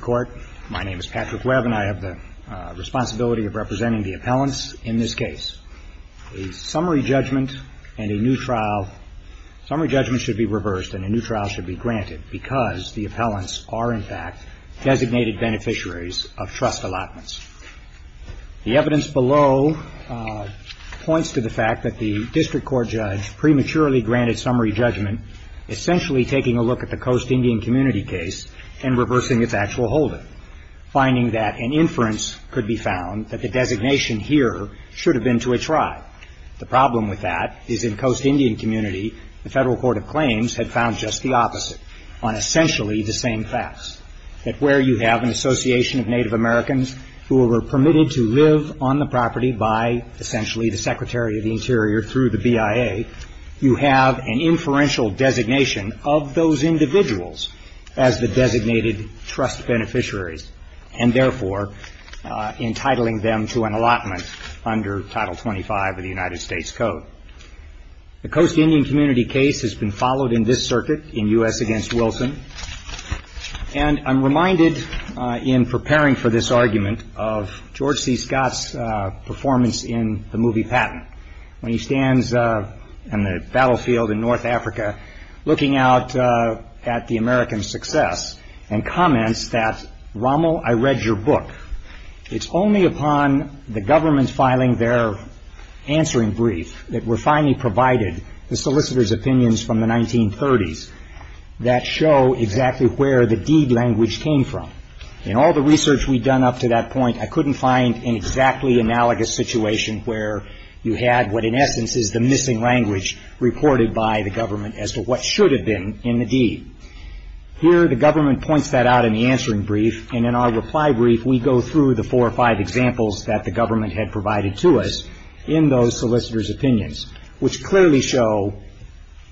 Court. My name is Patrick Webb and I have the responsibility of representing the appellants in this case. A summary judgment and a new trial, summary judgment should be reversed and a new trial should be granted because the appellants are in fact designated beneficiaries of trust allotments. The evidence below points to the fact that the district court judge prematurely granted summary judgment, essentially taking a look at the Coast Indian Community case and reversing its actual holding, finding that an inference could be found that the designation here should have been to a tribe. The problem with that is in Coast Indian Community, the Federal Court of Claims had found just the opposite, on essentially the same facts, that where you have an association of Native Americans who were permitted to live on the property by essentially the Secretary of the Interior through the BIA, you have an inferential designation of those individuals as the designated trust beneficiaries and therefore entitling them to an allotment under Title 25 of the United States Code. The Coast Indian Community case has been followed in this circuit in U.S. v. Wilson and I'm reminded in preparing for this argument of George C. Scott's performance in the movie looking out at the American success and comments that, Rommel, I read your book. It's only upon the government filing their answering brief that we're finally provided the solicitor's opinions from the 1930s that show exactly where the deed language came from. In all the research we've done up to that point, I couldn't find an exactly analogous situation where you had what in essence is the missing language reported by the government as to what should have been in the deed. Here the government points that out in the answering brief and in our reply brief we go through the four or five examples that the government had provided to us in those solicitor's opinions, which clearly show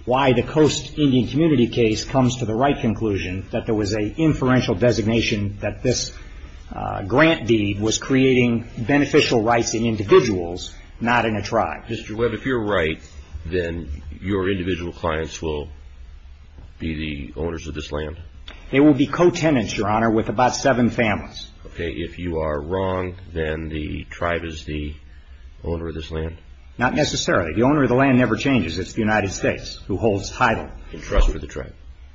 why the Coast Indian Community case comes to the right conclusion that there was an inferential designation that this grant deed was creating beneficial rights in individuals, not in a tribe. Mr. Webb, if you're right, then your individual clients will be the owners of this land? They will be co-tenants, Your Honor, with about seven families. Okay. If you are wrong, then the tribe is the owner of this land? Not necessarily. The owner of the land never changes. It's the United States who holds title. In trust with the tribe?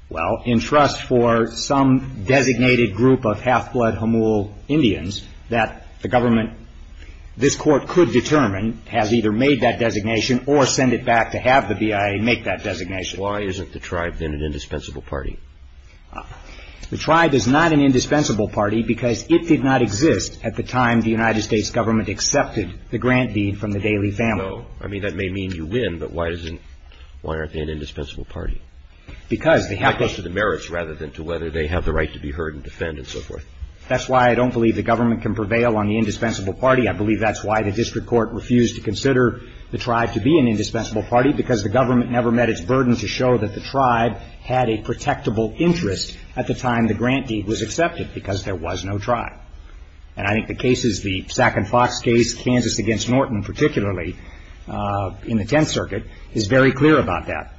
Well, in trust for some designated group of half-blood Hamool Indians that the government, this court could determine, has either made that designation or sent it back to have the BIA make that designation. Why isn't the tribe then an indispensable party? The tribe is not an indispensable party because it did not exist at the time the United States government accepted the grant deed from the Daley family. No. I mean, that may mean you win, but why isn't, why aren't they an indispensable party? Because they have to It goes to the merits rather than to whether they have the right to be heard and defend and so forth. That's why I don't believe the government can prevail on the indispensable party. I believe that's why the district court refused to consider the tribe to be an indispensable party, because the government never met its burden to show that the tribe had a protectable interest at the time the grant deed was accepted, because there was no tribe. And I think the cases, the Sac and Fox case, Kansas against Norton particularly, in the Tenth Circuit, is very clear about that.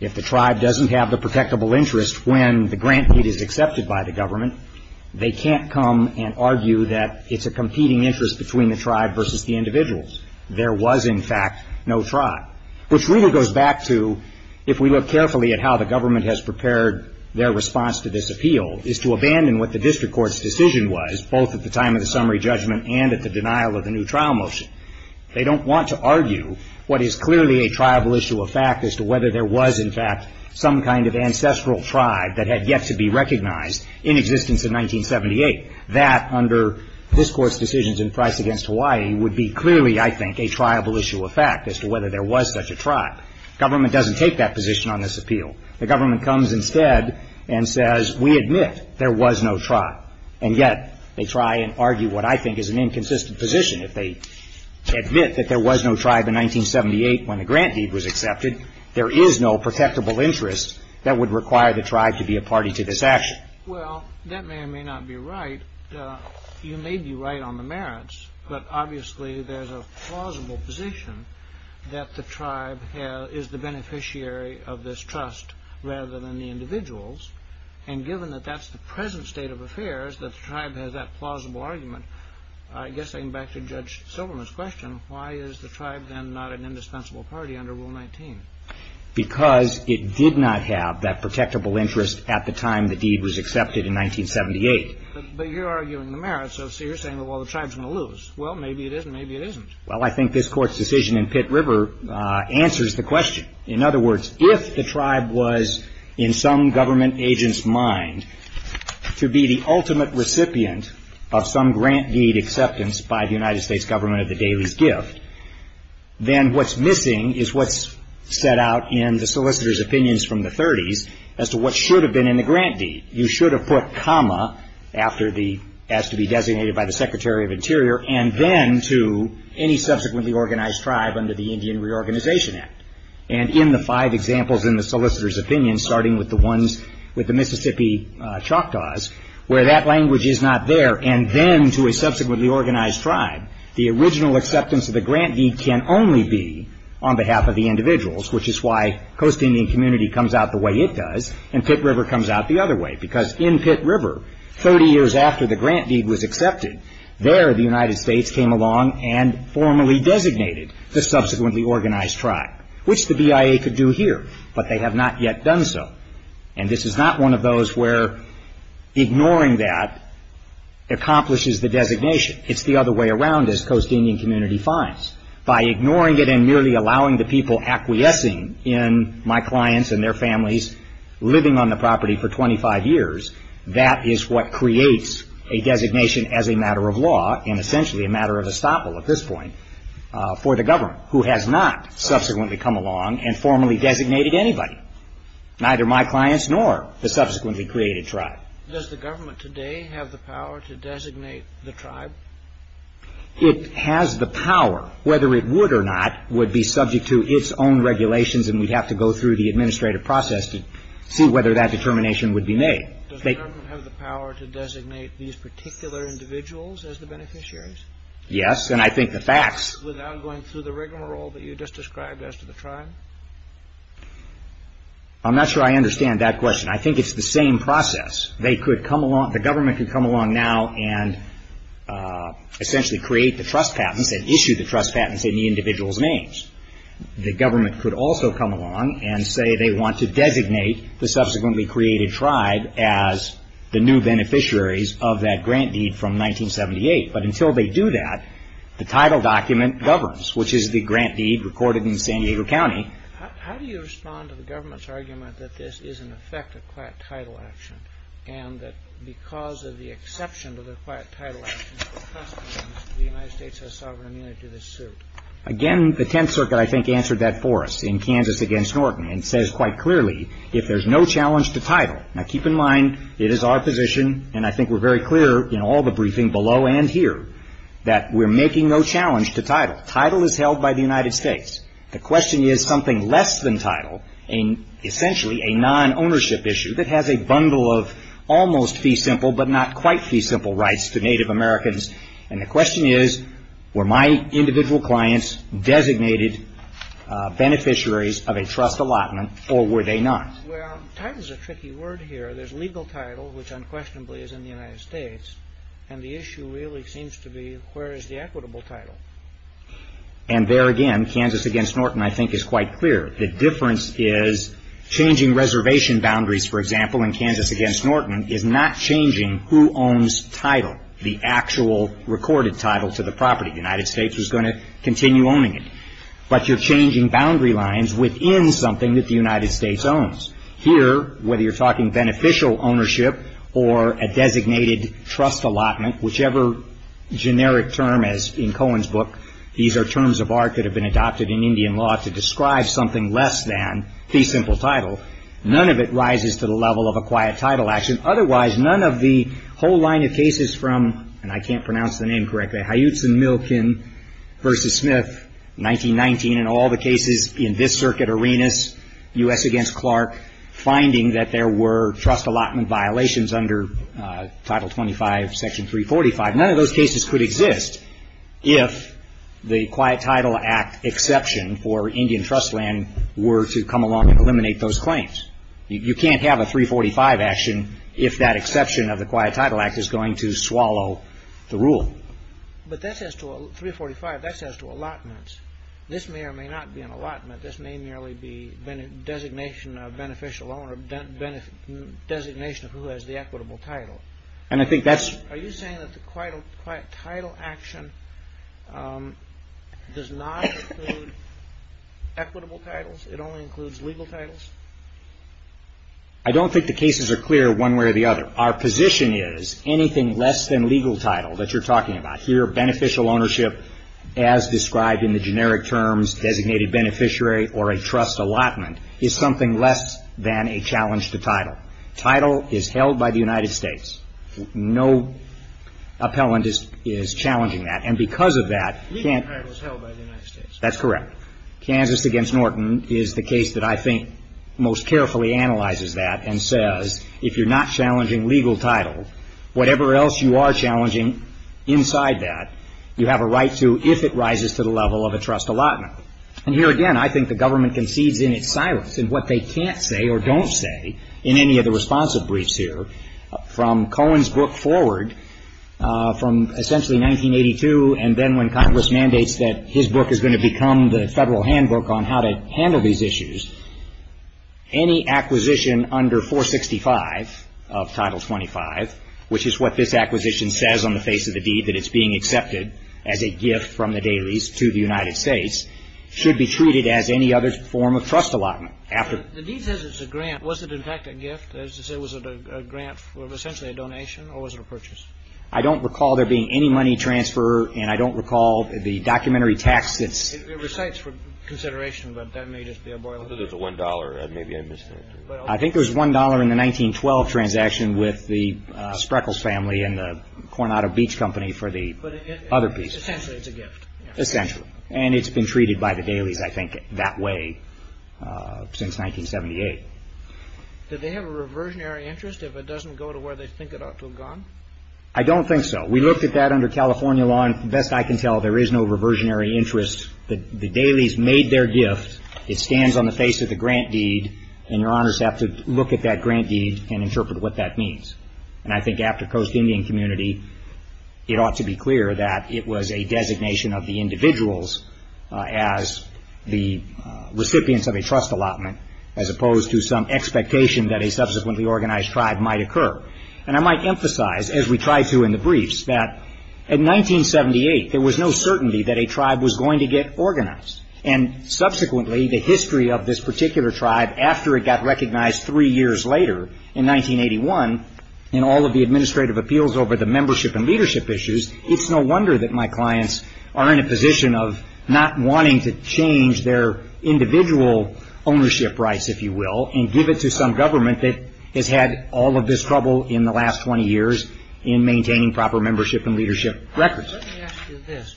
If the tribe doesn't have the protectable interest when the grant deed is accepted by the government, they can't come and argue that it's a competing interest between the tribe versus the individuals. There was, in fact, no tribe, which really goes back to, if we look carefully at how the government has prepared their response to this appeal, is to abandon what the district court's decision was, both at the time of the summary judgment and at the denial of the new trial motion. They don't want to argue what is clearly a triable issue of fact as to whether there was, in fact, some kind of ancestral tribe that had yet to be recognized in existence in 1978. That, under this Court's decisions in Price against Hawaii, would be clearly, I think, a triable issue of fact as to whether there was such a tribe. Government doesn't take that position on this appeal. The government comes instead and says, we admit there was no tribe. And yet, they try and argue what I think is an inconsistent position. If they admit that there was no tribe in 1978 when the grant deed was accepted, there is no protectable interest that would require the tribe to be a party to this action. Well, that may or may not be right. You may be right on the merits, but obviously there's a plausible position that the tribe is the beneficiary of this trust rather than the state of affairs, that the tribe has that plausible argument. I guess I come back to Judge Silberman's question. Why is the tribe, then, not an indispensable party under Rule 19? Because it did not have that protectable interest at the time the deed was accepted in 1978. But you're arguing the merits. So you're saying, well, the tribe's going to lose. Well, maybe it is and maybe it isn't. Well, I think this Court's decision in Pitt River answers the question. In other words, if the tribe was, in some government agent's mind, to be the ultimate recipient of some grant deed acceptance by the United States government of the dailies gift, then what's missing is what's set out in the solicitor's opinions from the 30s as to what should have been in the grant deed. You should have put comma after the, as to be designated by the Secretary of Interior, and then to any subsequently organized tribe under the Indian Reorganization Act. And in the five examples in the solicitor's opinion, starting with the ones with the Mississippi Choctaws, where that language is not there, and then to a subsequently organized tribe, the original acceptance of the grant deed can only be on behalf of the individuals, which is why Coast Indian Community comes out the way it does, and Pitt River comes out the other way. Because in Pitt River, 30 years after the grant deed was accepted, there the United States designated the subsequently organized tribe, which the BIA could do here, but they have not yet done so. And this is not one of those where ignoring that accomplishes the designation. It's the other way around, as Coast Indian Community finds. By ignoring it and merely allowing the people acquiescing in my clients and their families living on the property for 25 years, that is what creates a designation as a matter of law, and essentially a matter of estoppel at this point, for the government, who has not subsequently come along and formally designated anybody, neither my clients nor the subsequently created tribe. Does the government today have the power to designate the tribe? It has the power. Whether it would or not would be subject to its own regulations, and we'd have to go through the administrative process to see whether that determination would be made. Does the government have the power to designate these particular individuals as the beneficiaries? Yes, and I think the facts... Without going through the regular role that you just described as to the tribe? I'm not sure I understand that question. I think it's the same process. They could come along, the government could come along now and essentially create the trust patents and issue the trust patents in the individual's names. The government could also come along and say they want to designate the subsequently created tribe as the new beneficiaries of that grant deed from 1978, but until they do that, the title document governs, which is the grant deed recorded in San Diego County. How do you respond to the government's argument that this is in effect a quiet title action, and that because of the exception to the quiet title action, the United States has sovereign immunity to this suit? Again, the Tenth Circuit, I think, answered that for us in Kansas against Norton and says quite clearly, if there's no challenge to title... Now keep in mind, it is our position, and I think we're very clear in all the briefing below and here, that we're making no challenge to title. Title is held by the United States. The question is something less than title, and essentially a non-ownership issue that has a bundle of almost fee simple, but not individual clients designated beneficiaries of a trust allotment, or were they not? Well, title is a tricky word here. There's legal title, which unquestionably is in the United States, and the issue really seems to be where is the equitable title? And there again, Kansas against Norton, I think, is quite clear. The difference is changing reservation boundaries, for example, in Kansas against Norton is not changing who owns title, the actual recorded title to the property. The United States is going to continue owning it, but you're changing boundary lines within something that the United States owns. Here, whether you're talking beneficial ownership or a designated trust allotment, whichever generic term, as in Cohen's book, these are terms of art that have been adopted in Indian law to describe something less than fee simple title, none of it rises to the level of a whole line of cases from, and I can't pronounce the name correctly, Huyutzen-Milken versus Smith, 1919, and all the cases in this circuit, Arenas, U.S. against Clark, finding that there were trust allotment violations under Title 25, Section 345. None of those cases could exist if the Quiet Title Act exception for Indian trust land were to come along and eliminate those claims. You can't have a 345 action if that exception of the Quiet Title Act is going to swallow the rule. But that says to a 345, that says to allotments, this may or may not be an allotment. This may merely be designation of beneficial owner, designation of who has the equitable title. And I think that's... Are you saying that the Quiet Title Action does not include equitable titles? It only includes legal titles? I don't think the cases are clear one way or the other. Our position is, anything less than legal title that you're talking about, here, beneficial ownership as described in the generic terms designated beneficiary or a trust allotment, is something less than a challenge to title. Title is held by the United States. No appellant is challenging that. And because of that... Legal title is held by the United States. That's correct. Kansas against Norton is the case that I think most carefully analyzes that and says, if you're not challenging legal title, whatever else you are challenging inside that, you have a right to if it rises to the level of a trust allotment. And here again, I think the government concedes in its silence in what they can't say or don't say in any of the responsive briefs here. From Cohen's book forward, from essentially 1982, and then when Congress mandates that his book is going to become the federal handbook on how to handle these issues, any acquisition under 465 of Title 25, which is what this acquisition says on the face of the deed, that it's being accepted as a gift from the dailies to the United States, should be treated as any other form of trust allotment. The deed says it's a grant. Was it, in fact, a gift? That is to say, was it a grant for essentially a donation, or was it a purchase? I don't recall there being any money transfer, and I don't recall the documentary tax that's It recites for consideration, but that may just be a boilerplate. I thought it was a $1. Maybe I misread it. I think it was $1 in the 1912 transaction with the Spreckles family and the Coronado Beach Company for the other pieces. But essentially it's a gift. Essentially. And it's been treated by the dailies, I think, that way since 1978. Did they have a reversionary interest if it doesn't go to where they think it ought to have gone? I don't think so. We looked at that under California law, and best I can tell, there is no reversionary interest. The dailies made their gift. It stands on the face of the grant deed, and Your Honors have to look at that grant deed and interpret what that means. And I think after Coast Indian Community, it ought to be clear that it was a designation of the individuals as the recipients of a trust allotment as opposed to some expectation that a subsequently organized tribe might occur. And I might emphasize, as we try to in the briefs, that in 1978 there was no certainty that a tribe was going to get organized. And subsequently, the history of this particular tribe after it got recognized three years later in 1981 in all of the administrative appeals over the membership and leadership issues, it's no wonder that my clients are in a position of not wanting to change their individual ownership rights, if you will, and give it to some government that has had all of this trouble in the last 20 years in maintaining proper membership and leadership records. Let me ask you this.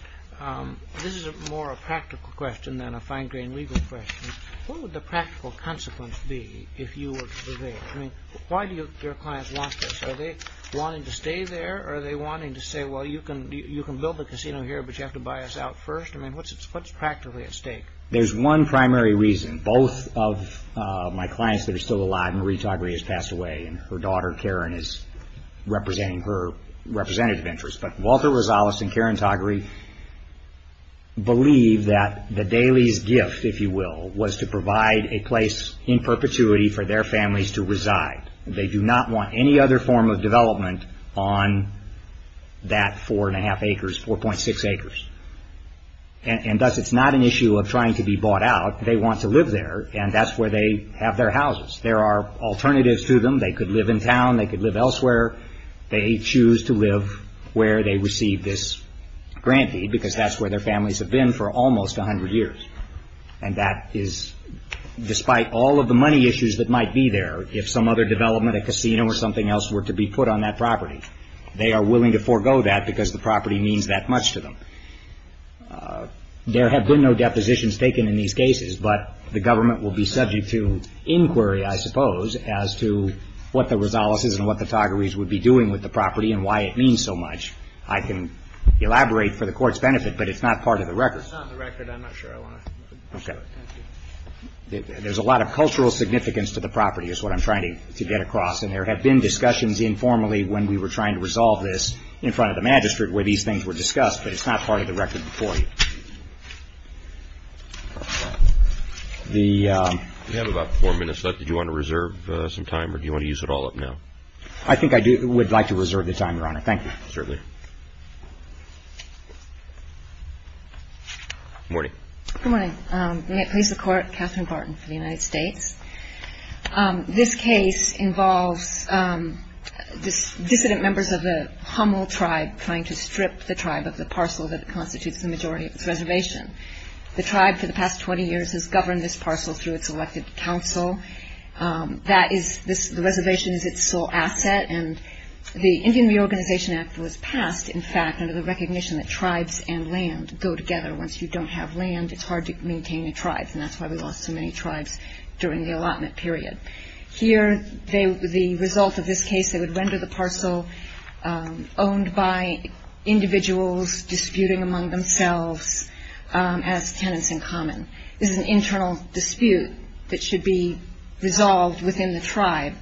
This is more a practical question than a fine-grained legal question. What would the practical consequence be if you were to prevail? I mean, why do your clients want this? Are they wanting to stay there or are they wanting to say, well, you can build the casino here, but you have to buy us out first? I mean, what's practically at stake? There's one primary reason. Both of my clients that are still alive, Marie Tagri has passed away and her daughter, Karen, is representing her representative interest. But Walter Rosales and Karen Tagri believe that the Daly's gift, if you will, was to provide a place in perpetuity for their families to reside. They do not want any other form of development on that four and a half acres, 4.6 acres. And thus, it's not an issue of trying to be bought out. They want to live there and that's where they have their houses. There are alternatives to them. They could live in town. They could live elsewhere. They choose to live where they receive this grant deed because that's where their families have been for almost 100 years. And that is, despite all of the money issues that might be there, if some other development, a casino or something else were to be put on that property, they are willing to forego that because the property means that much to them. There have been no depositions taken in these cases, but the government will be subject to inquiry, I suppose, as to what the Rosales's and what the Tagri's would be doing with the property and why it means so much. I can elaborate for the Court's benefit, but it's not part of the record. It's not in the record. I'm not sure I want to discuss it. Okay. There's a lot of cultural significance to the property is what I'm trying to get across and there have been discussions informally when we were trying to resolve this in front of the magistrate where these things were discussed, but it's not part of the record before you. We have about four minutes left. Did you want to reserve some time or do you want to use it all up now? I think I would like to reserve the time, Your Honor. Thank you. Certainly. Good morning. Good morning. May it please the Court, Katherine Barton for the United States. This case involves dissident members of the Hummel tribe trying to strip the tribe of the parcel that constitutes the majority of its reservation. The tribe, for the past 20 years, has governed this parcel through its elected council. The reservation is its sole asset and the Indian Reorganization Act was passed, in fact, under the recognition that tribes and land go together. Once you don't have land, it's hard to maintain a tribe and that's why we lost so many tribes during the allotment period. Here, the result of this case, they would render the parcel owned by individuals disputing among themselves as tenants in common. This is an internal dispute that should be resolved within the tribe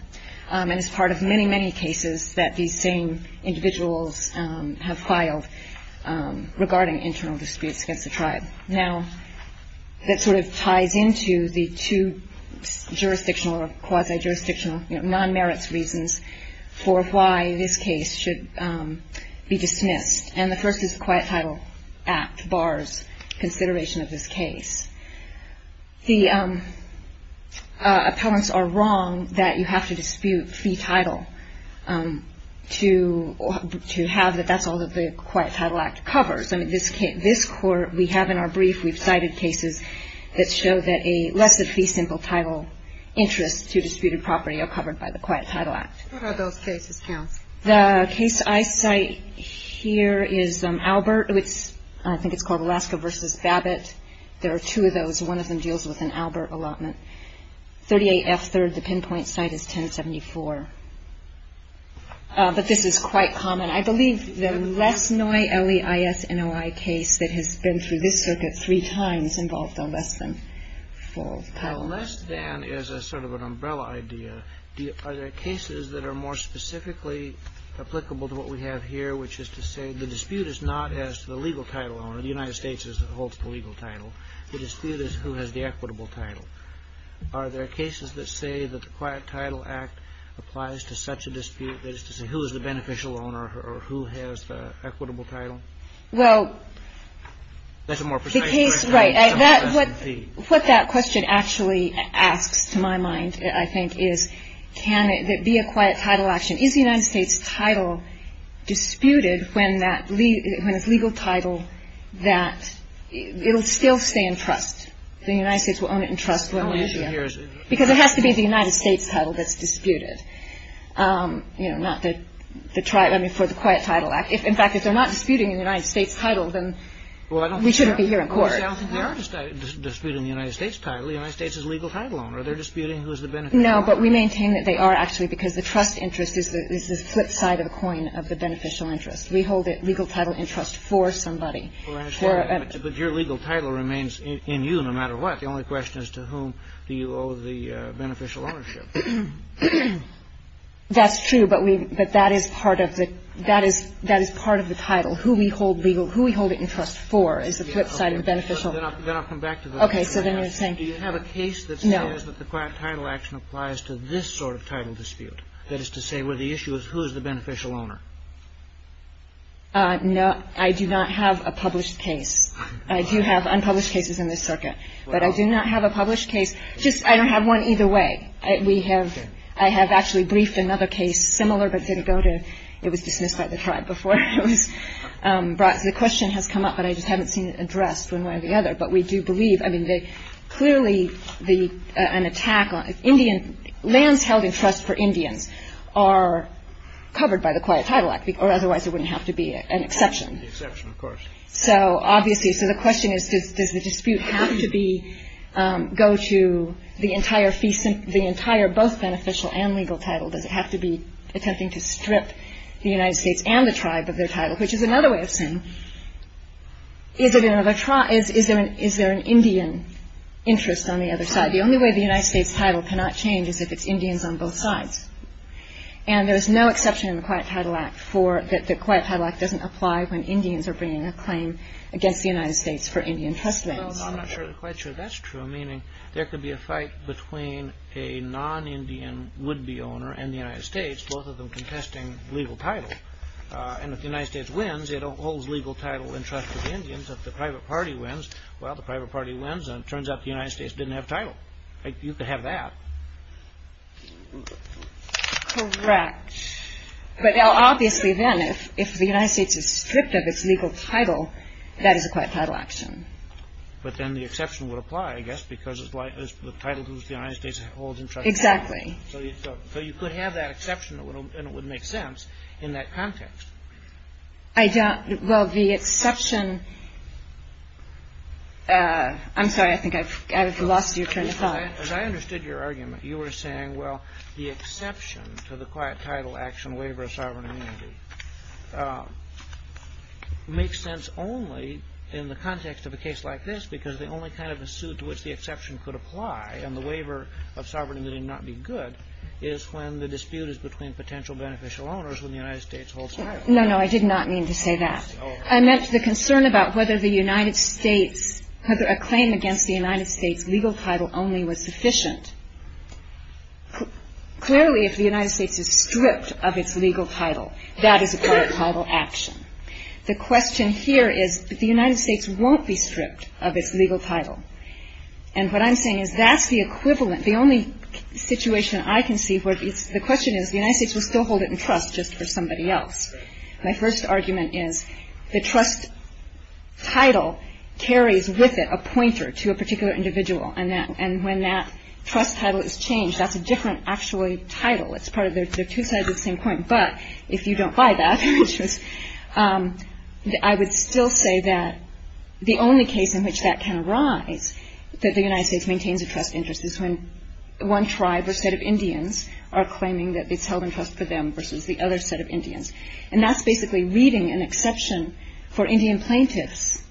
and is part of many, many cases that these same individuals have filed regarding internal disputes against the tribe. Now, that sort of ties into the two jurisdictional or quasi-jurisdictional, non-merits reasons for why this case should be dismissed. And the first is the Quiet Title Act bars consideration of this case. The appellants are wrong that you have to dispute fee title to have that that's all that the Quiet Title Act covers. I mean, this court, we have in our brief, we've cited cases that show that a less-than-fee simple title interest to disputed property are covered by the Quiet Title Act. What are those cases, Counsel? The case I cite here is Albert. I think it's called Alaska v. Babbitt. There are two of those. One of them deals with an Albert allotment. 38F3rd, the pinpoint site, is 1074. But this is quite common. I believe the Lesnoi, L-E-I-S-N-O-I case that has been through this circuit three times involved a less-than for title. But are there cases that are more specifically applicable to what we have here, which is to say the dispute is not as to the legal title owner. The United States holds the legal title. The dispute is who has the equitable title. Are there cases that say that the Quiet Title Act applies to such a dispute as to say who is the beneficial owner or who has the equitable title? Well, the case, right. What that question actually asks, to my mind, I think, is who is the beneficial owner. And I think that's what we're trying to figure out here. Is the United States title disputed when that legal – when it's legal title, that it will still stay in trust? The United States will own it in trust? The only issue here is – Because it has to be the United States title that's disputed. You know, not the – the – I mean, for the Quiet Title Act. In fact, if they're not disputing the United States title, then we shouldn't be here in court. Well, I don't think they are disputing the United States title. The United States is the legal title owner. They're disputing who is the beneficial owner. No, but we maintain that they are, actually, because the trust interest is the flip side of the coin of the beneficial interest. We hold the legal title in trust for somebody. But your legal title remains in you no matter what. The only question is to whom do you owe the beneficial ownership? That's true, but we – but that is part of the – that is – that is part of the title. Who we hold legal – who we hold it in trust for is the flip side of the beneficial – Then I'll come back to the – Okay. So then you're saying – Do you have a case that says that the Quiet Title Action applies to this sort of title dispute, that is to say, where the issue is who is the beneficial owner? No. I do not have a published case. I do have unpublished cases in this circuit. But I do not have a published case. Just – I don't have one either way. We have – I have actually briefed another case similar but didn't go to – it was dismissed by the tribe before it was brought – the question has come up, but I just haven't seen it addressed one way or the other. But we do believe – I mean, they – clearly the – an attack on Indian – lands held in trust for Indians are covered by the Quiet Title Act, or otherwise it wouldn't have to be an exception. The exception, of course. So, obviously – so the question is, does the dispute have to be – go to the entire both beneficial and legal title? Does it have to be attempting to strip the United States and the tribe of their title, which is another way of saying, is it another – is there an Indian interest on the other side? The only way the United States title cannot change is if it's Indians on both sides. And there is no exception in the Quiet Title Act for that the Quiet Title Act doesn't apply when Indians are bringing a claim against the United States for Indian trust lands. Well, I'm not quite sure that's true, meaning there could be a fight between a non-Indian would-be owner and the United States, both of them contesting legal title. And if the United States wins, it holds legal title in trust for the Indians. If the private party wins, well, the private party wins, and it turns out the United States didn't have title. Like, you could have that. Correct. But now, obviously then, if the United States is stripped of its legal title, that is a Quiet Title Action. But then the exception would apply, I guess, because it's the title that the United States holds in trust. Exactly. So you could have that exception, and it would make sense in that context. I don't – well, the exception – I'm sorry, I think I've lost you. Turn to Tom. As I understood your argument, you were saying, well, the exception to the Quiet Title Action and the waiver of sovereign immunity makes sense only in the context of a case like this, because the only kind of a suit to which the exception could apply and the waiver of sovereignty did not be good is when the dispute is between potential beneficial owners when the United States holds title. No, no, I did not mean to say that. I meant the concern about whether the United States – whether a claim against the United States' legal title only was sufficient. Clearly, if the United States is stripped of its legal title, that is a Quiet Title Action. The question here is that the United States won't be stripped of its legal title. And what I'm saying is that's the equivalent – the only situation I can see where it's – the question is the United States will still hold it in trust just for somebody else. My first argument is the trust title carries with it a pointer to a particular individual, and when that trust title is changed, that's a different, actually, title. It's part of their – they're two sides of the same coin. But if you don't buy that, which was – I would still say that the only case in which that can arise, that the United States maintains a trust interest, is when one tribe or set of Indians are claiming that it's held in trust for them versus the other set of Indians. And that's basically reading an exception for Indian plaintiffs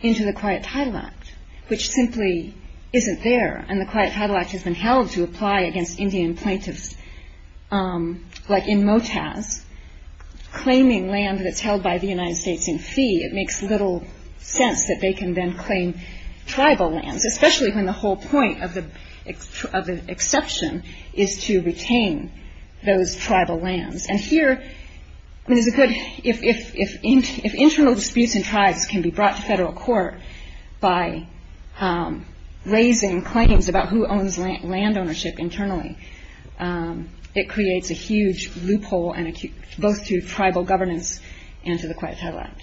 into the Quiet Title Act, which simply isn't there. And the Quiet Title Act has been held to apply against Indian plaintiffs, like in MOTAS, claiming land that's held by the United States in fee. It makes little sense that they can then claim tribal lands, especially when the whole point of the exception is to retain those tribal lands. And here, I mean, there's a good – if internal disputes in tribes can be brought to federal court by raising claims about who owns land ownership internally, it creates a huge loophole, both to tribal governance and to the Quiet Title Act.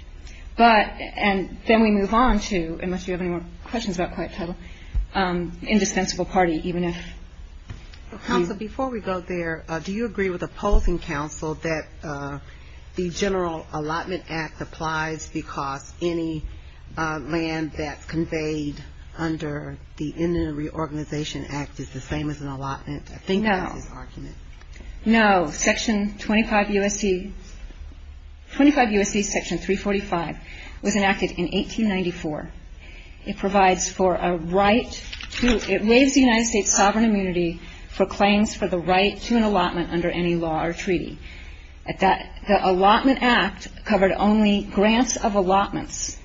And then we move on to, unless you have any more questions about Quiet Title, indispensable party, even if – Counsel, before we go there, do you agree with opposing counsel that the General Allotment Act applies because any land that's conveyed under the Indian Reorganization Act is the same as an allotment? I think that's his argument. No. No. Section 25 U.S.C. – 25 U.S.C. Section 345 was enacted in 1894. It provides for a right to – it waives the United States' sovereign immunity for claims for the right to an allotment under any law or treaty. The Allotment Act covered only grants of allotments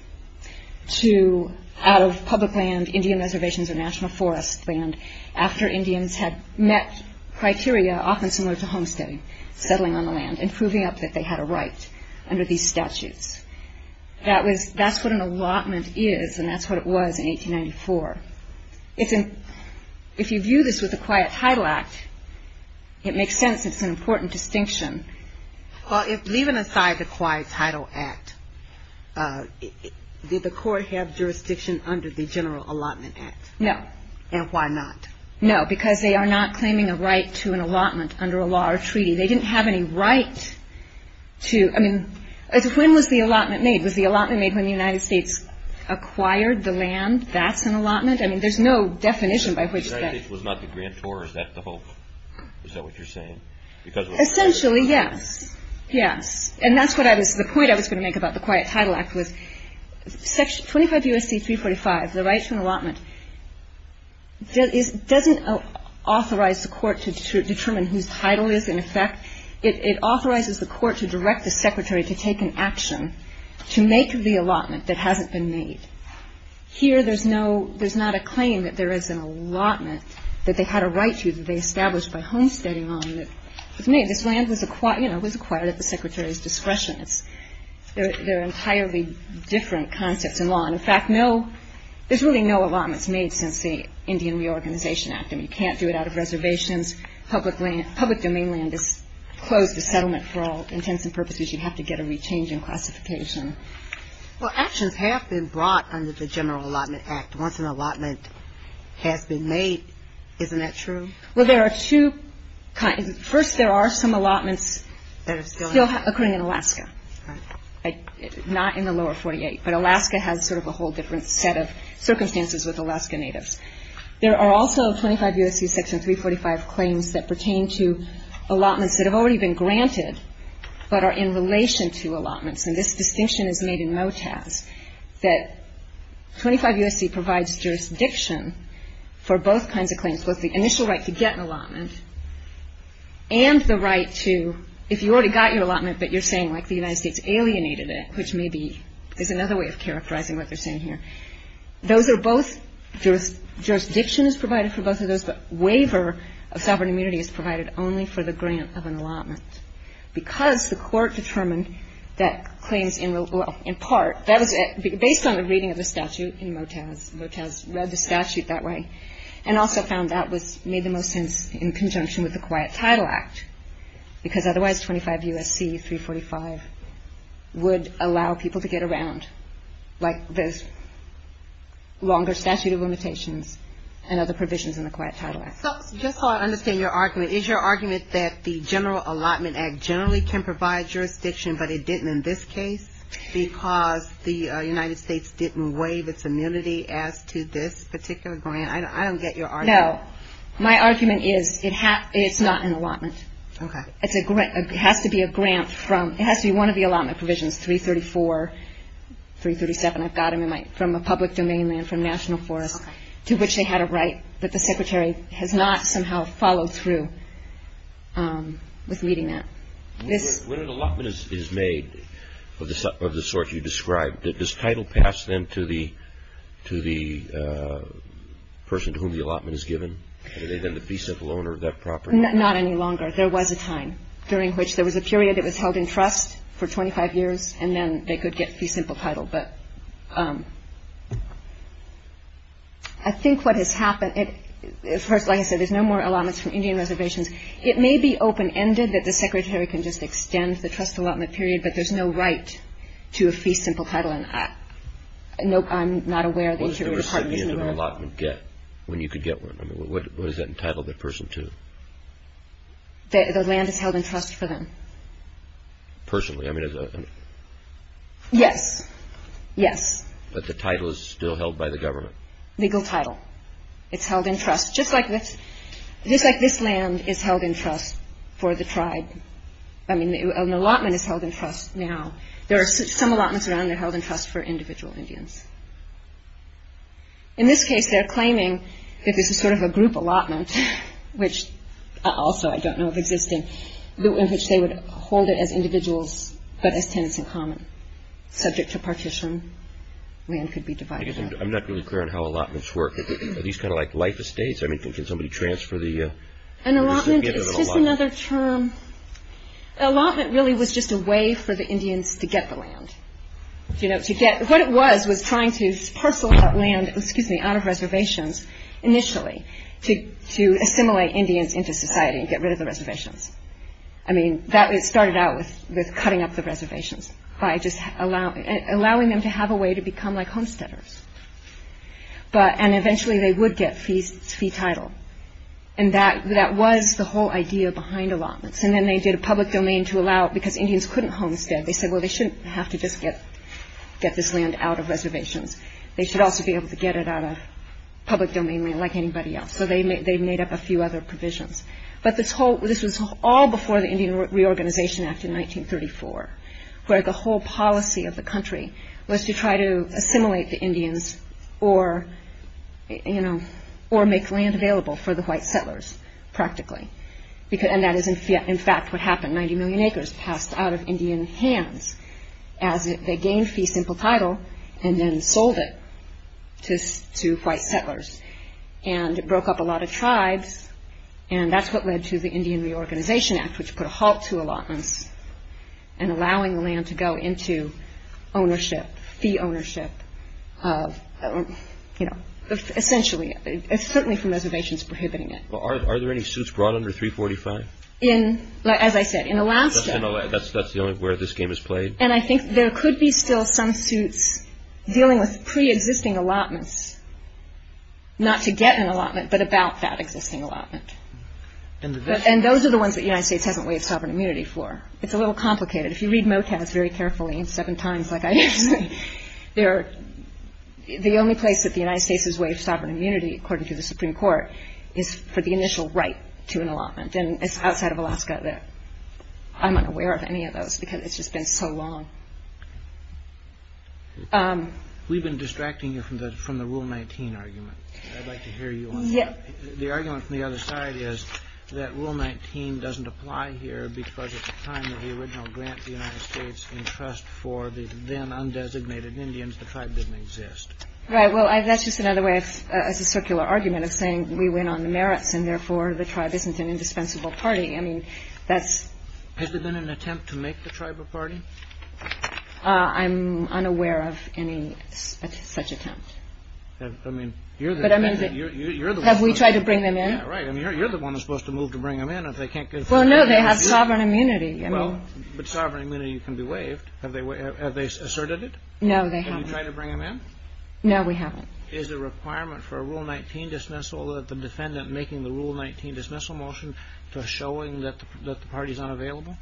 to – out of public land, Indian reservations, or national forest land, after Indians had met criteria often similar to homesteading, settling on the land, and proving up that they had a right under these statutes. That was – that's what an allotment is, and that's what it was in 1894. It's – if you view this with the Quiet Title Act, it makes sense. It's an important distinction. Well, if – leaving aside the Quiet Title Act, did the Court have jurisdiction under the General Allotment Act? No. And why not? No, because they are not claiming a right to an allotment under a law or treaty. They didn't have any right to – I mean, when was the allotment made? Was the allotment made when the United States acquired the land? That's an allotment? I mean, there's no definition by which that – The United States was not the grantor. Is that the whole – is that what you're saying? Because – Essentially, yes. Yes. And that's what I was – the point I was going to make about the Quiet Title Act was 25 U.S.C. 345, the right to an allotment, doesn't authorize the Court to determine whose title is in effect. It authorizes the Court to direct the Secretary to take an action to make the allotment that hasn't been made. Here, there's no – there's not a claim that there is an allotment that they had a right to that they established by homesteading on that was made. This land was acquired – you know, it was acquired at the Secretary's discretion. It's – they're entirely different concepts in law. And, in fact, no – there's really no allotments made since the Indian Reorganization Act. I mean, you can't do it out of reservations. Public land – public domain land is closed to settlement for all intents and purposes. You'd have to get a rechange in classification. Well, actions have been brought under the General Allotment Act. Once an allotment has been made, isn't that true? Well, there are two – first, there are some allotments still occurring in Alaska, not in the lower 48. But Alaska has sort of a whole different set of circumstances with Alaska Natives. There are also 25 U.S.C. Section 345 claims that pertain to allotments that have already been granted but are in relation to allotments. And this distinction is made in MOTAS, that 25 U.S.C. provides jurisdiction for both kinds of claims, both the initial right to get an allotment and the right to – if you already got your allotment, but you're saying, like, the United States alienated it, which may be – is another way of characterizing what they're saying here. Those are both – jurisdiction is provided for both of those, but waiver of sovereign immunity is provided only for the grant of an allotment. Because the court determined that claims in part – that was based on the reading of the statute in MOTAS. MOTAS read the statute that way and also found that was – made the most sense in conjunction with the Quiet Title Act, because otherwise 25 U.S.C. 345 would allow people to get around, like the longer statute of limitations and other provisions in the Quiet Title Act. So just so I understand your argument, is your argument that the General Allotment Act generally can provide jurisdiction, but it didn't in this case because the United States didn't waive its immunity as to this particular grant? I don't get your argument. No. My argument is it's not an allotment. Okay. It's a grant – it has to be a grant from – it has to be one of the allotment provisions, 334, 337, I've got them in my – from a public domain land from National Forest, to which they had a right, but the Secretary has not somehow followed through with meeting that. When an allotment is made of the sort you described, does title pass then to the – to the person to whom the allotment is given? Are they then the fee simple owner of that property? Not any longer. There was a time during which there was a period it was held in trust for I think what has happened – of course, like I said, there's no more allotments from Indian Reservations. It may be open-ended that the Secretary can just extend the trust allotment period, but there's no right to a fee simple title, and I'm not aware of the Interior Department isn't aware of that. What does the recipient of an allotment get when you could get one? I mean, what does that entitle the person to? The land is held in trust for them. Personally? I mean, as a – Yes. Yes. But the title is still held by the government. Legal title. It's held in trust, just like this – just like this land is held in trust for the tribe. I mean, an allotment is held in trust now. There are some allotments around that are held in trust for individual Indians. In this case, they're claiming that this is sort of a group allotment, which also I don't know of existing, in which they would hold it as individuals, but as tenants in common, subject to partition. Land could be divided up. I guess I'm not really clear on how allotments work. Are these kind of like life estates? I mean, can somebody transfer the recipient of an allotment? An allotment is just another term – an allotment really was just a way for the Indians to get the land. You know, to get – what it was was trying to parcel that land, excuse me, out of reservations initially to assimilate Indians into society and get rid of the reservations. I mean, that – it started out with cutting up the reservations by just allowing them to have a way to become like homesteaders, but – and eventually they would get fee title. And that was the whole idea behind allotments. And then they did a public domain to allow – because Indians couldn't homestead, they said, well, they shouldn't have to just get this land out of reservations. They should also be able to get it out of public domain like anybody else. So they made up a few other provisions. But this whole – this was all before the Indian Reorganization Act in 1934, where the whole policy of the country was to try to assimilate the Indians or, you know, or make land available for the white settlers, practically. And that is in fact what happened. Ninety million acres passed out of Indian hands as they gained fee simple title and then sold it to white settlers. And it broke up a lot of tribes, and that's what led to the Indian Reorganization Act, which put a halt to allotments and allowing the land to go into ownership, fee ownership, you know, essentially – certainly from reservations prohibiting it. Well, are there any suits brought under 345? In – as I said, in Alaska – That's the only – where this game is played? And I think there could be still some suits dealing with preexisting allotments, not to the ones that the United States hasn't waived sovereign immunity for. It's a little complicated. If you read MOCAS very carefully, seven times, like I did today, they're – the only place that the United States has waived sovereign immunity, according to the Supreme Court, is for the initial right to an allotment. And it's outside of Alaska that I'm unaware of any of those, because it's just been so long. We've been distracting you from the Rule 19 argument. I'd like to hear you on that. Yes. The argument from the other side is that Rule 19 doesn't apply here, because at the time of the original grant, the United States entrust for the then undesignated Indians, the tribe didn't exist. Right. Well, that's just another way of – as a circular argument of saying we went on the merits, and therefore the tribe isn't an indispensable party. I mean, that's – Has there been an attempt to make the tribe a party? I'm unaware of any such attempt. I mean, you're the – Have we tried to bring them in? Yeah, right. I mean, you're the one who's supposed to move to bring them in if they can't get – Well, no, they have sovereign immunity. I mean – Well, but sovereign immunity can be waived. Have they asserted it? No, they haven't. Have you tried to bring them in? No, we haven't. Is the requirement for a Rule 19 dismissal that the defendant making the Rule 19 dismissal motion to showing that the party's unavailable?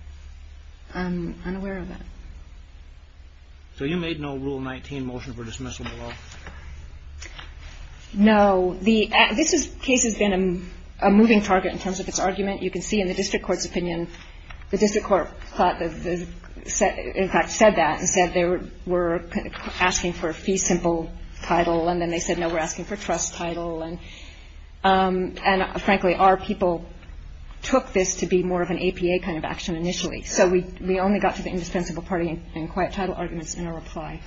I'm unaware of that. So you made no Rule 19 motion for dismissal below? No. The – this case has been a moving target in terms of its argument. You can see in the district court's opinion, the district court thought – in fact, said that and said they were asking for a fee-simple title, and then they said, no, we're asking for trust title, and, frankly, our people took this to be more of an APA kind of action initially. So we only got to the indispensable party and quiet title arguments in a reply.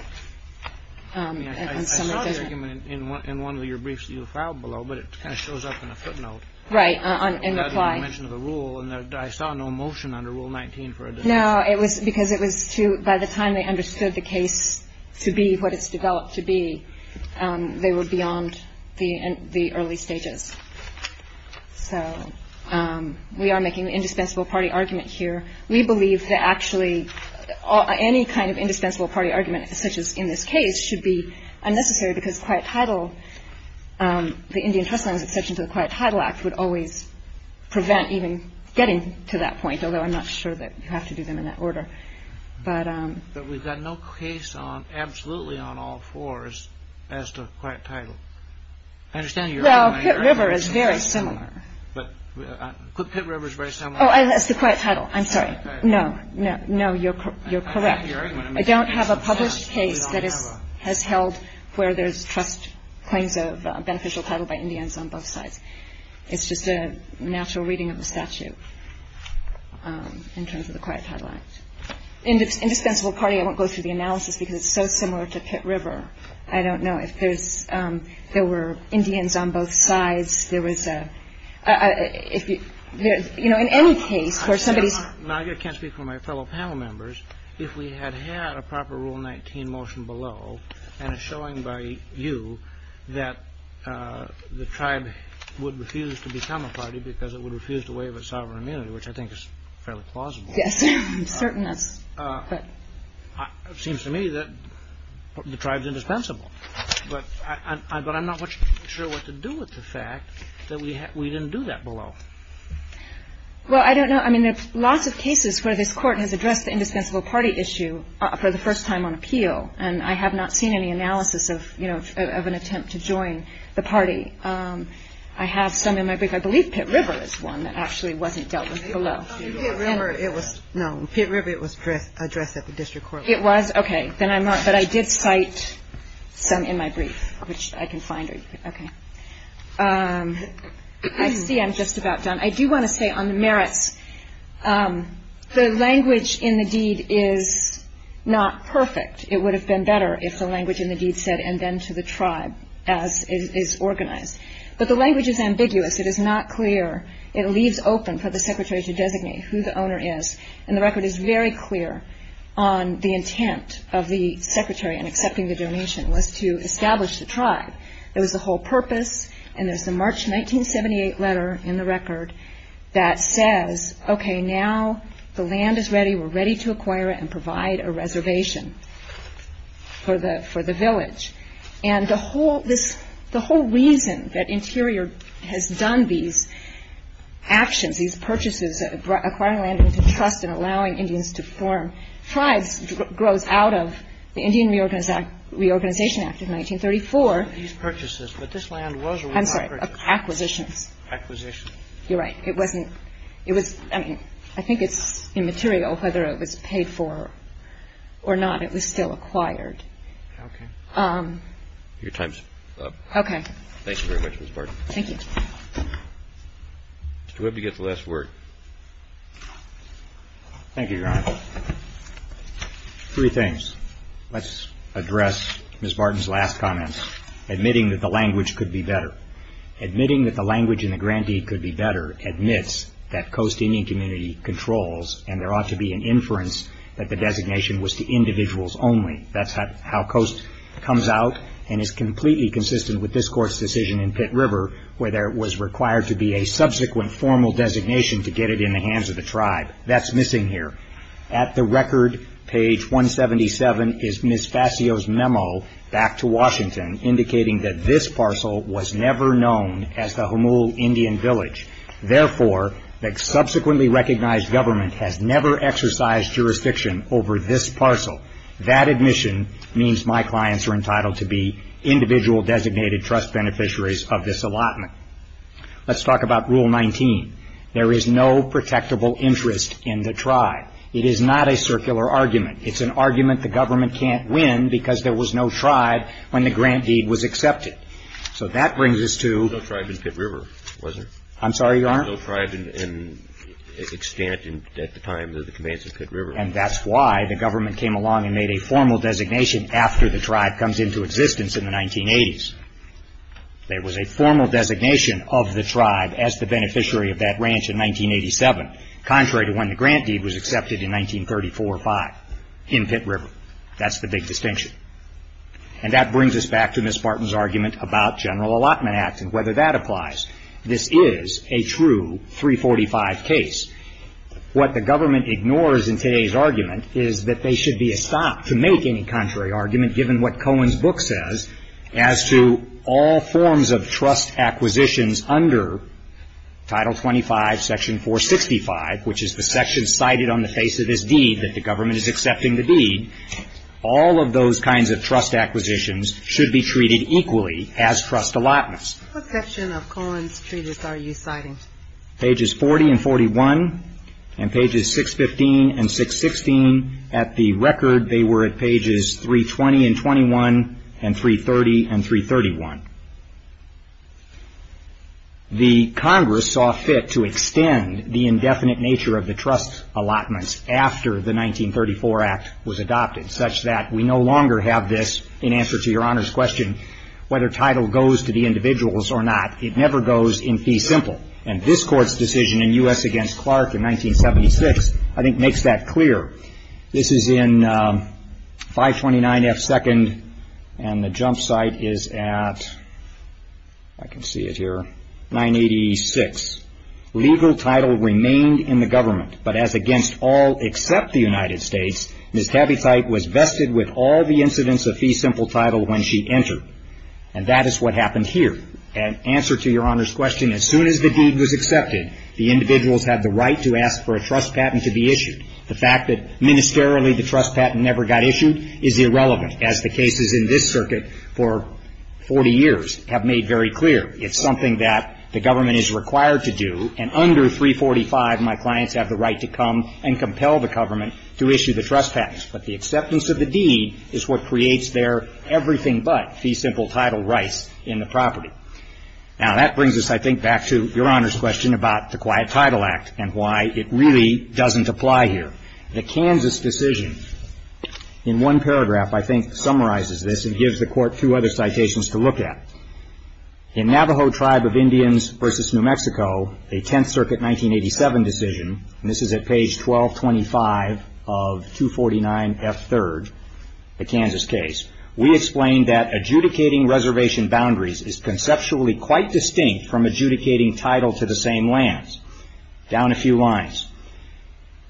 I mean, I saw the argument in one of your briefs that you filed below, but it kind of shows up in a footnote. Right, in reply. You mentioned the rule, and I saw no motion under Rule 19 for a dismissal. No, it was because it was to – by the time they understood the case to be what it's developed to be, they were beyond the early stages. So we are making the indispensable party argument here. We believe that actually any kind of indispensable party argument, such as in this case, should be unnecessary because quiet title – the Indian Trust Line's exception to the Quiet Title Act would always prevent even getting to that point, although I'm not sure that you have to do them in that order. But – But we've got no case on – absolutely on all fours as to quiet title. I understand you're – Well, Pitt River is very similar. But – Pitt River is very similar. Oh, that's the quiet title. I'm sorry. No. No, you're correct. I don't have a published case that has held where there's trust claims of beneficial title by Indians on both sides. It's just a natural reading of the statute in terms of the Quiet Title Act. Indispensable party, I won't go through the analysis because it's so similar to Pitt River. I don't know if there's – there were Indians on both sides. In any case, for somebody's – Now, I can't speak for my fellow panel members. If we had had a proper Rule 19 motion below and it's showing by you that the tribe would refuse to become a party because it would refuse to waive its sovereign immunity, which I think is fairly plausible. Yes. Certainness. But – It seems to me that the tribe's indispensable. But I'm not sure what to do with the fact that we didn't do that below. Well, I don't know. I mean, there's lots of cases where this Court has addressed the indispensable party issue for the first time on appeal, and I have not seen any analysis of, you know, of an attempt to join the party. I have some in my book. I believe Pitt River is one that actually wasn't dealt with below. Pitt River, it was – no, Pitt River, it was addressed at the district court level. It was? Okay. Then I'm not – but I did cite some in my brief, which I can find. Okay. I see I'm just about done. I do want to say on the merits, the language in the deed is not perfect. It would have been better if the language in the deed said, and then to the tribe, as is organized. But the language is ambiguous. It is not clear. It leaves open for the secretary to designate who the owner is, and the record is very clear the intent of the secretary in accepting the donation was to establish the tribe. It was the whole purpose, and there's the March 1978 letter in the record that says, okay, now the land is ready. We're ready to acquire it and provide a reservation for the village. And the whole reason that Interior has done these actions, these purchases, acquiring land into trust and allowing Indians to form tribes grows out of the Indian Reorganization Act of 1934. These purchases. But this land was or was not purchased? I'm sorry. Acquisitions. Acquisitions. You're right. It wasn't – it was – I mean, I think it's immaterial whether it was paid for or not. It was still acquired. Okay. Your time's up. Okay. Thank you very much, Ms. Barton. Thank you. Mr. Webb, you get the last word. Thank you, Your Honor. Three things. Let's address Ms. Barton's last comment, admitting that the language could be better. Admitting that the language in the grantee could be better admits that Coast Indian Community controls, and there ought to be an inference that the designation was to individuals only. That's how Coast comes out and is completely consistent with this Court's decision in that there was required to be a subsequent formal designation to get it in the hands of the tribe. That's missing here. At the record, page 177, is Ms. Fascio's memo back to Washington indicating that this parcel was never known as the Humul Indian Village. Therefore, the subsequently recognized government has never exercised jurisdiction over this parcel. That admission means my clients are entitled to be individual designated trust beneficiaries of this allotment. Let's talk about Rule 19. There is no protectable interest in the tribe. It is not a circular argument. It's an argument the government can't win because there was no tribe when the grant deed was accepted. So that brings us to No tribe in Pitt River, was there? I'm sorry, Your Honor? No tribe in extent at the time of the commands of Pitt River. And that's why the government came along and made a formal designation after the tribe comes into existence in the 1980s. There was a formal designation of the tribe as the beneficiary of that ranch in 1987, contrary to when the grant deed was accepted in 1934-5 in Pitt River. That's the big distinction. And that brings us back to Ms. Barton's argument about General Allotment Act and whether that applies. This is a true 345 case. What the government ignores in today's argument is that they should be stopped to make any given what Cohen's book says as to all forms of trust acquisitions under Title 25, Section 465, which is the section cited on the face of this deed that the government is accepting the deed. All of those kinds of trust acquisitions should be treated equally as trust allotments. What section of Cohen's treatise are you citing? Pages 40 and 41 and pages 615 and 616. At the record, they were at pages 320 and 21 and 330 and 331. The Congress saw fit to extend the indefinite nature of the trust allotments after the 1934 Act was adopted, such that we no longer have this, in answer to Your Honor's question, whether title goes to the individuals or not. It never goes in fee simple. And this Court's decision in U.S. against Clark in 1976, I think, makes that clear. This is in 529 F. 2nd, and the jump site is at, I can see it here, 986. Legal title remained in the government, but as against all except the United States, Ms. Tabetheit was vested with all the incidents of fee simple title when she entered. And that is what happened here. In answer to Your Honor's question, as soon as the deed was accepted, the individuals had the right to ask for a trust patent to be issued. The fact that ministerially the trust patent never got issued is irrelevant, as the cases in this circuit for 40 years have made very clear. It's something that the government is required to do. And under 345, my clients have the right to come and compel the government to issue the trust patent. But the acceptance of the deed is what creates their everything but fee simple title rights in the property. Now, that brings us, I think, back to Your Honor's question about the Quiet Title Act and why it really doesn't apply here. The Kansas decision in one paragraph, I think, summarizes this and gives the Court two other citations to look at. In Navajo Tribe of Indians v. New Mexico, a 10th Circuit 1987 decision, and this is at page 1225 of 249F3rd, the Kansas case, we explain that adjudicating reservation boundaries is conceptually quite distinct from adjudicating title to the same lands. Down a few lines.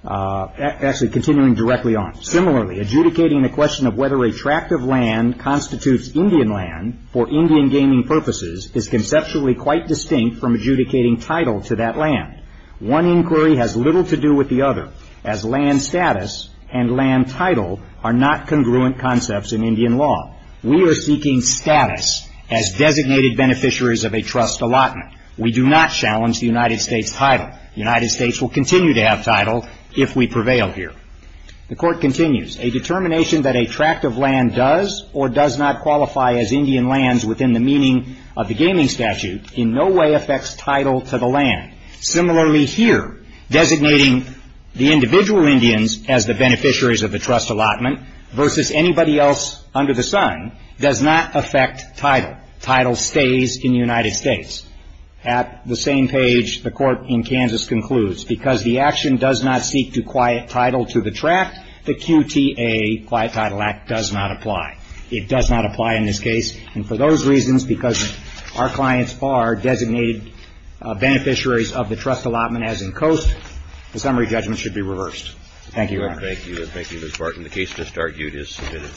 Actually, continuing directly on. Similarly, adjudicating the question of whether a tract of land constitutes Indian land for Indian gaming purposes is conceptually quite distinct from adjudicating title to that land. One inquiry has little to do with the other as land status and land title are not congruent concepts in Indian law. We are seeking status as designated beneficiaries of a trust allotment. We do not challenge the United States title. The United States will continue to have title if we prevail here. The Court continues. A determination that a tract of land does or does not qualify as Indian lands within the meaning of the gaming statute in no way affects title to the land. Similarly, here, designating the individual Indians as the beneficiaries of the trust allotment versus anybody else under the sun does not affect title. Title stays in the United States. At the same page, the Court in Kansas concludes, because the action does not seek to quiet title to the tract, the QTA, Quiet Title Act, does not apply. It does not apply in this case, and for those reasons, because our clients are designated beneficiaries of the trust allotment as in Coast, the summary judgment should be reversed. Thank you, Your Honor. Thank you. Thank you, Ms. Barton. The case just argued is submitted.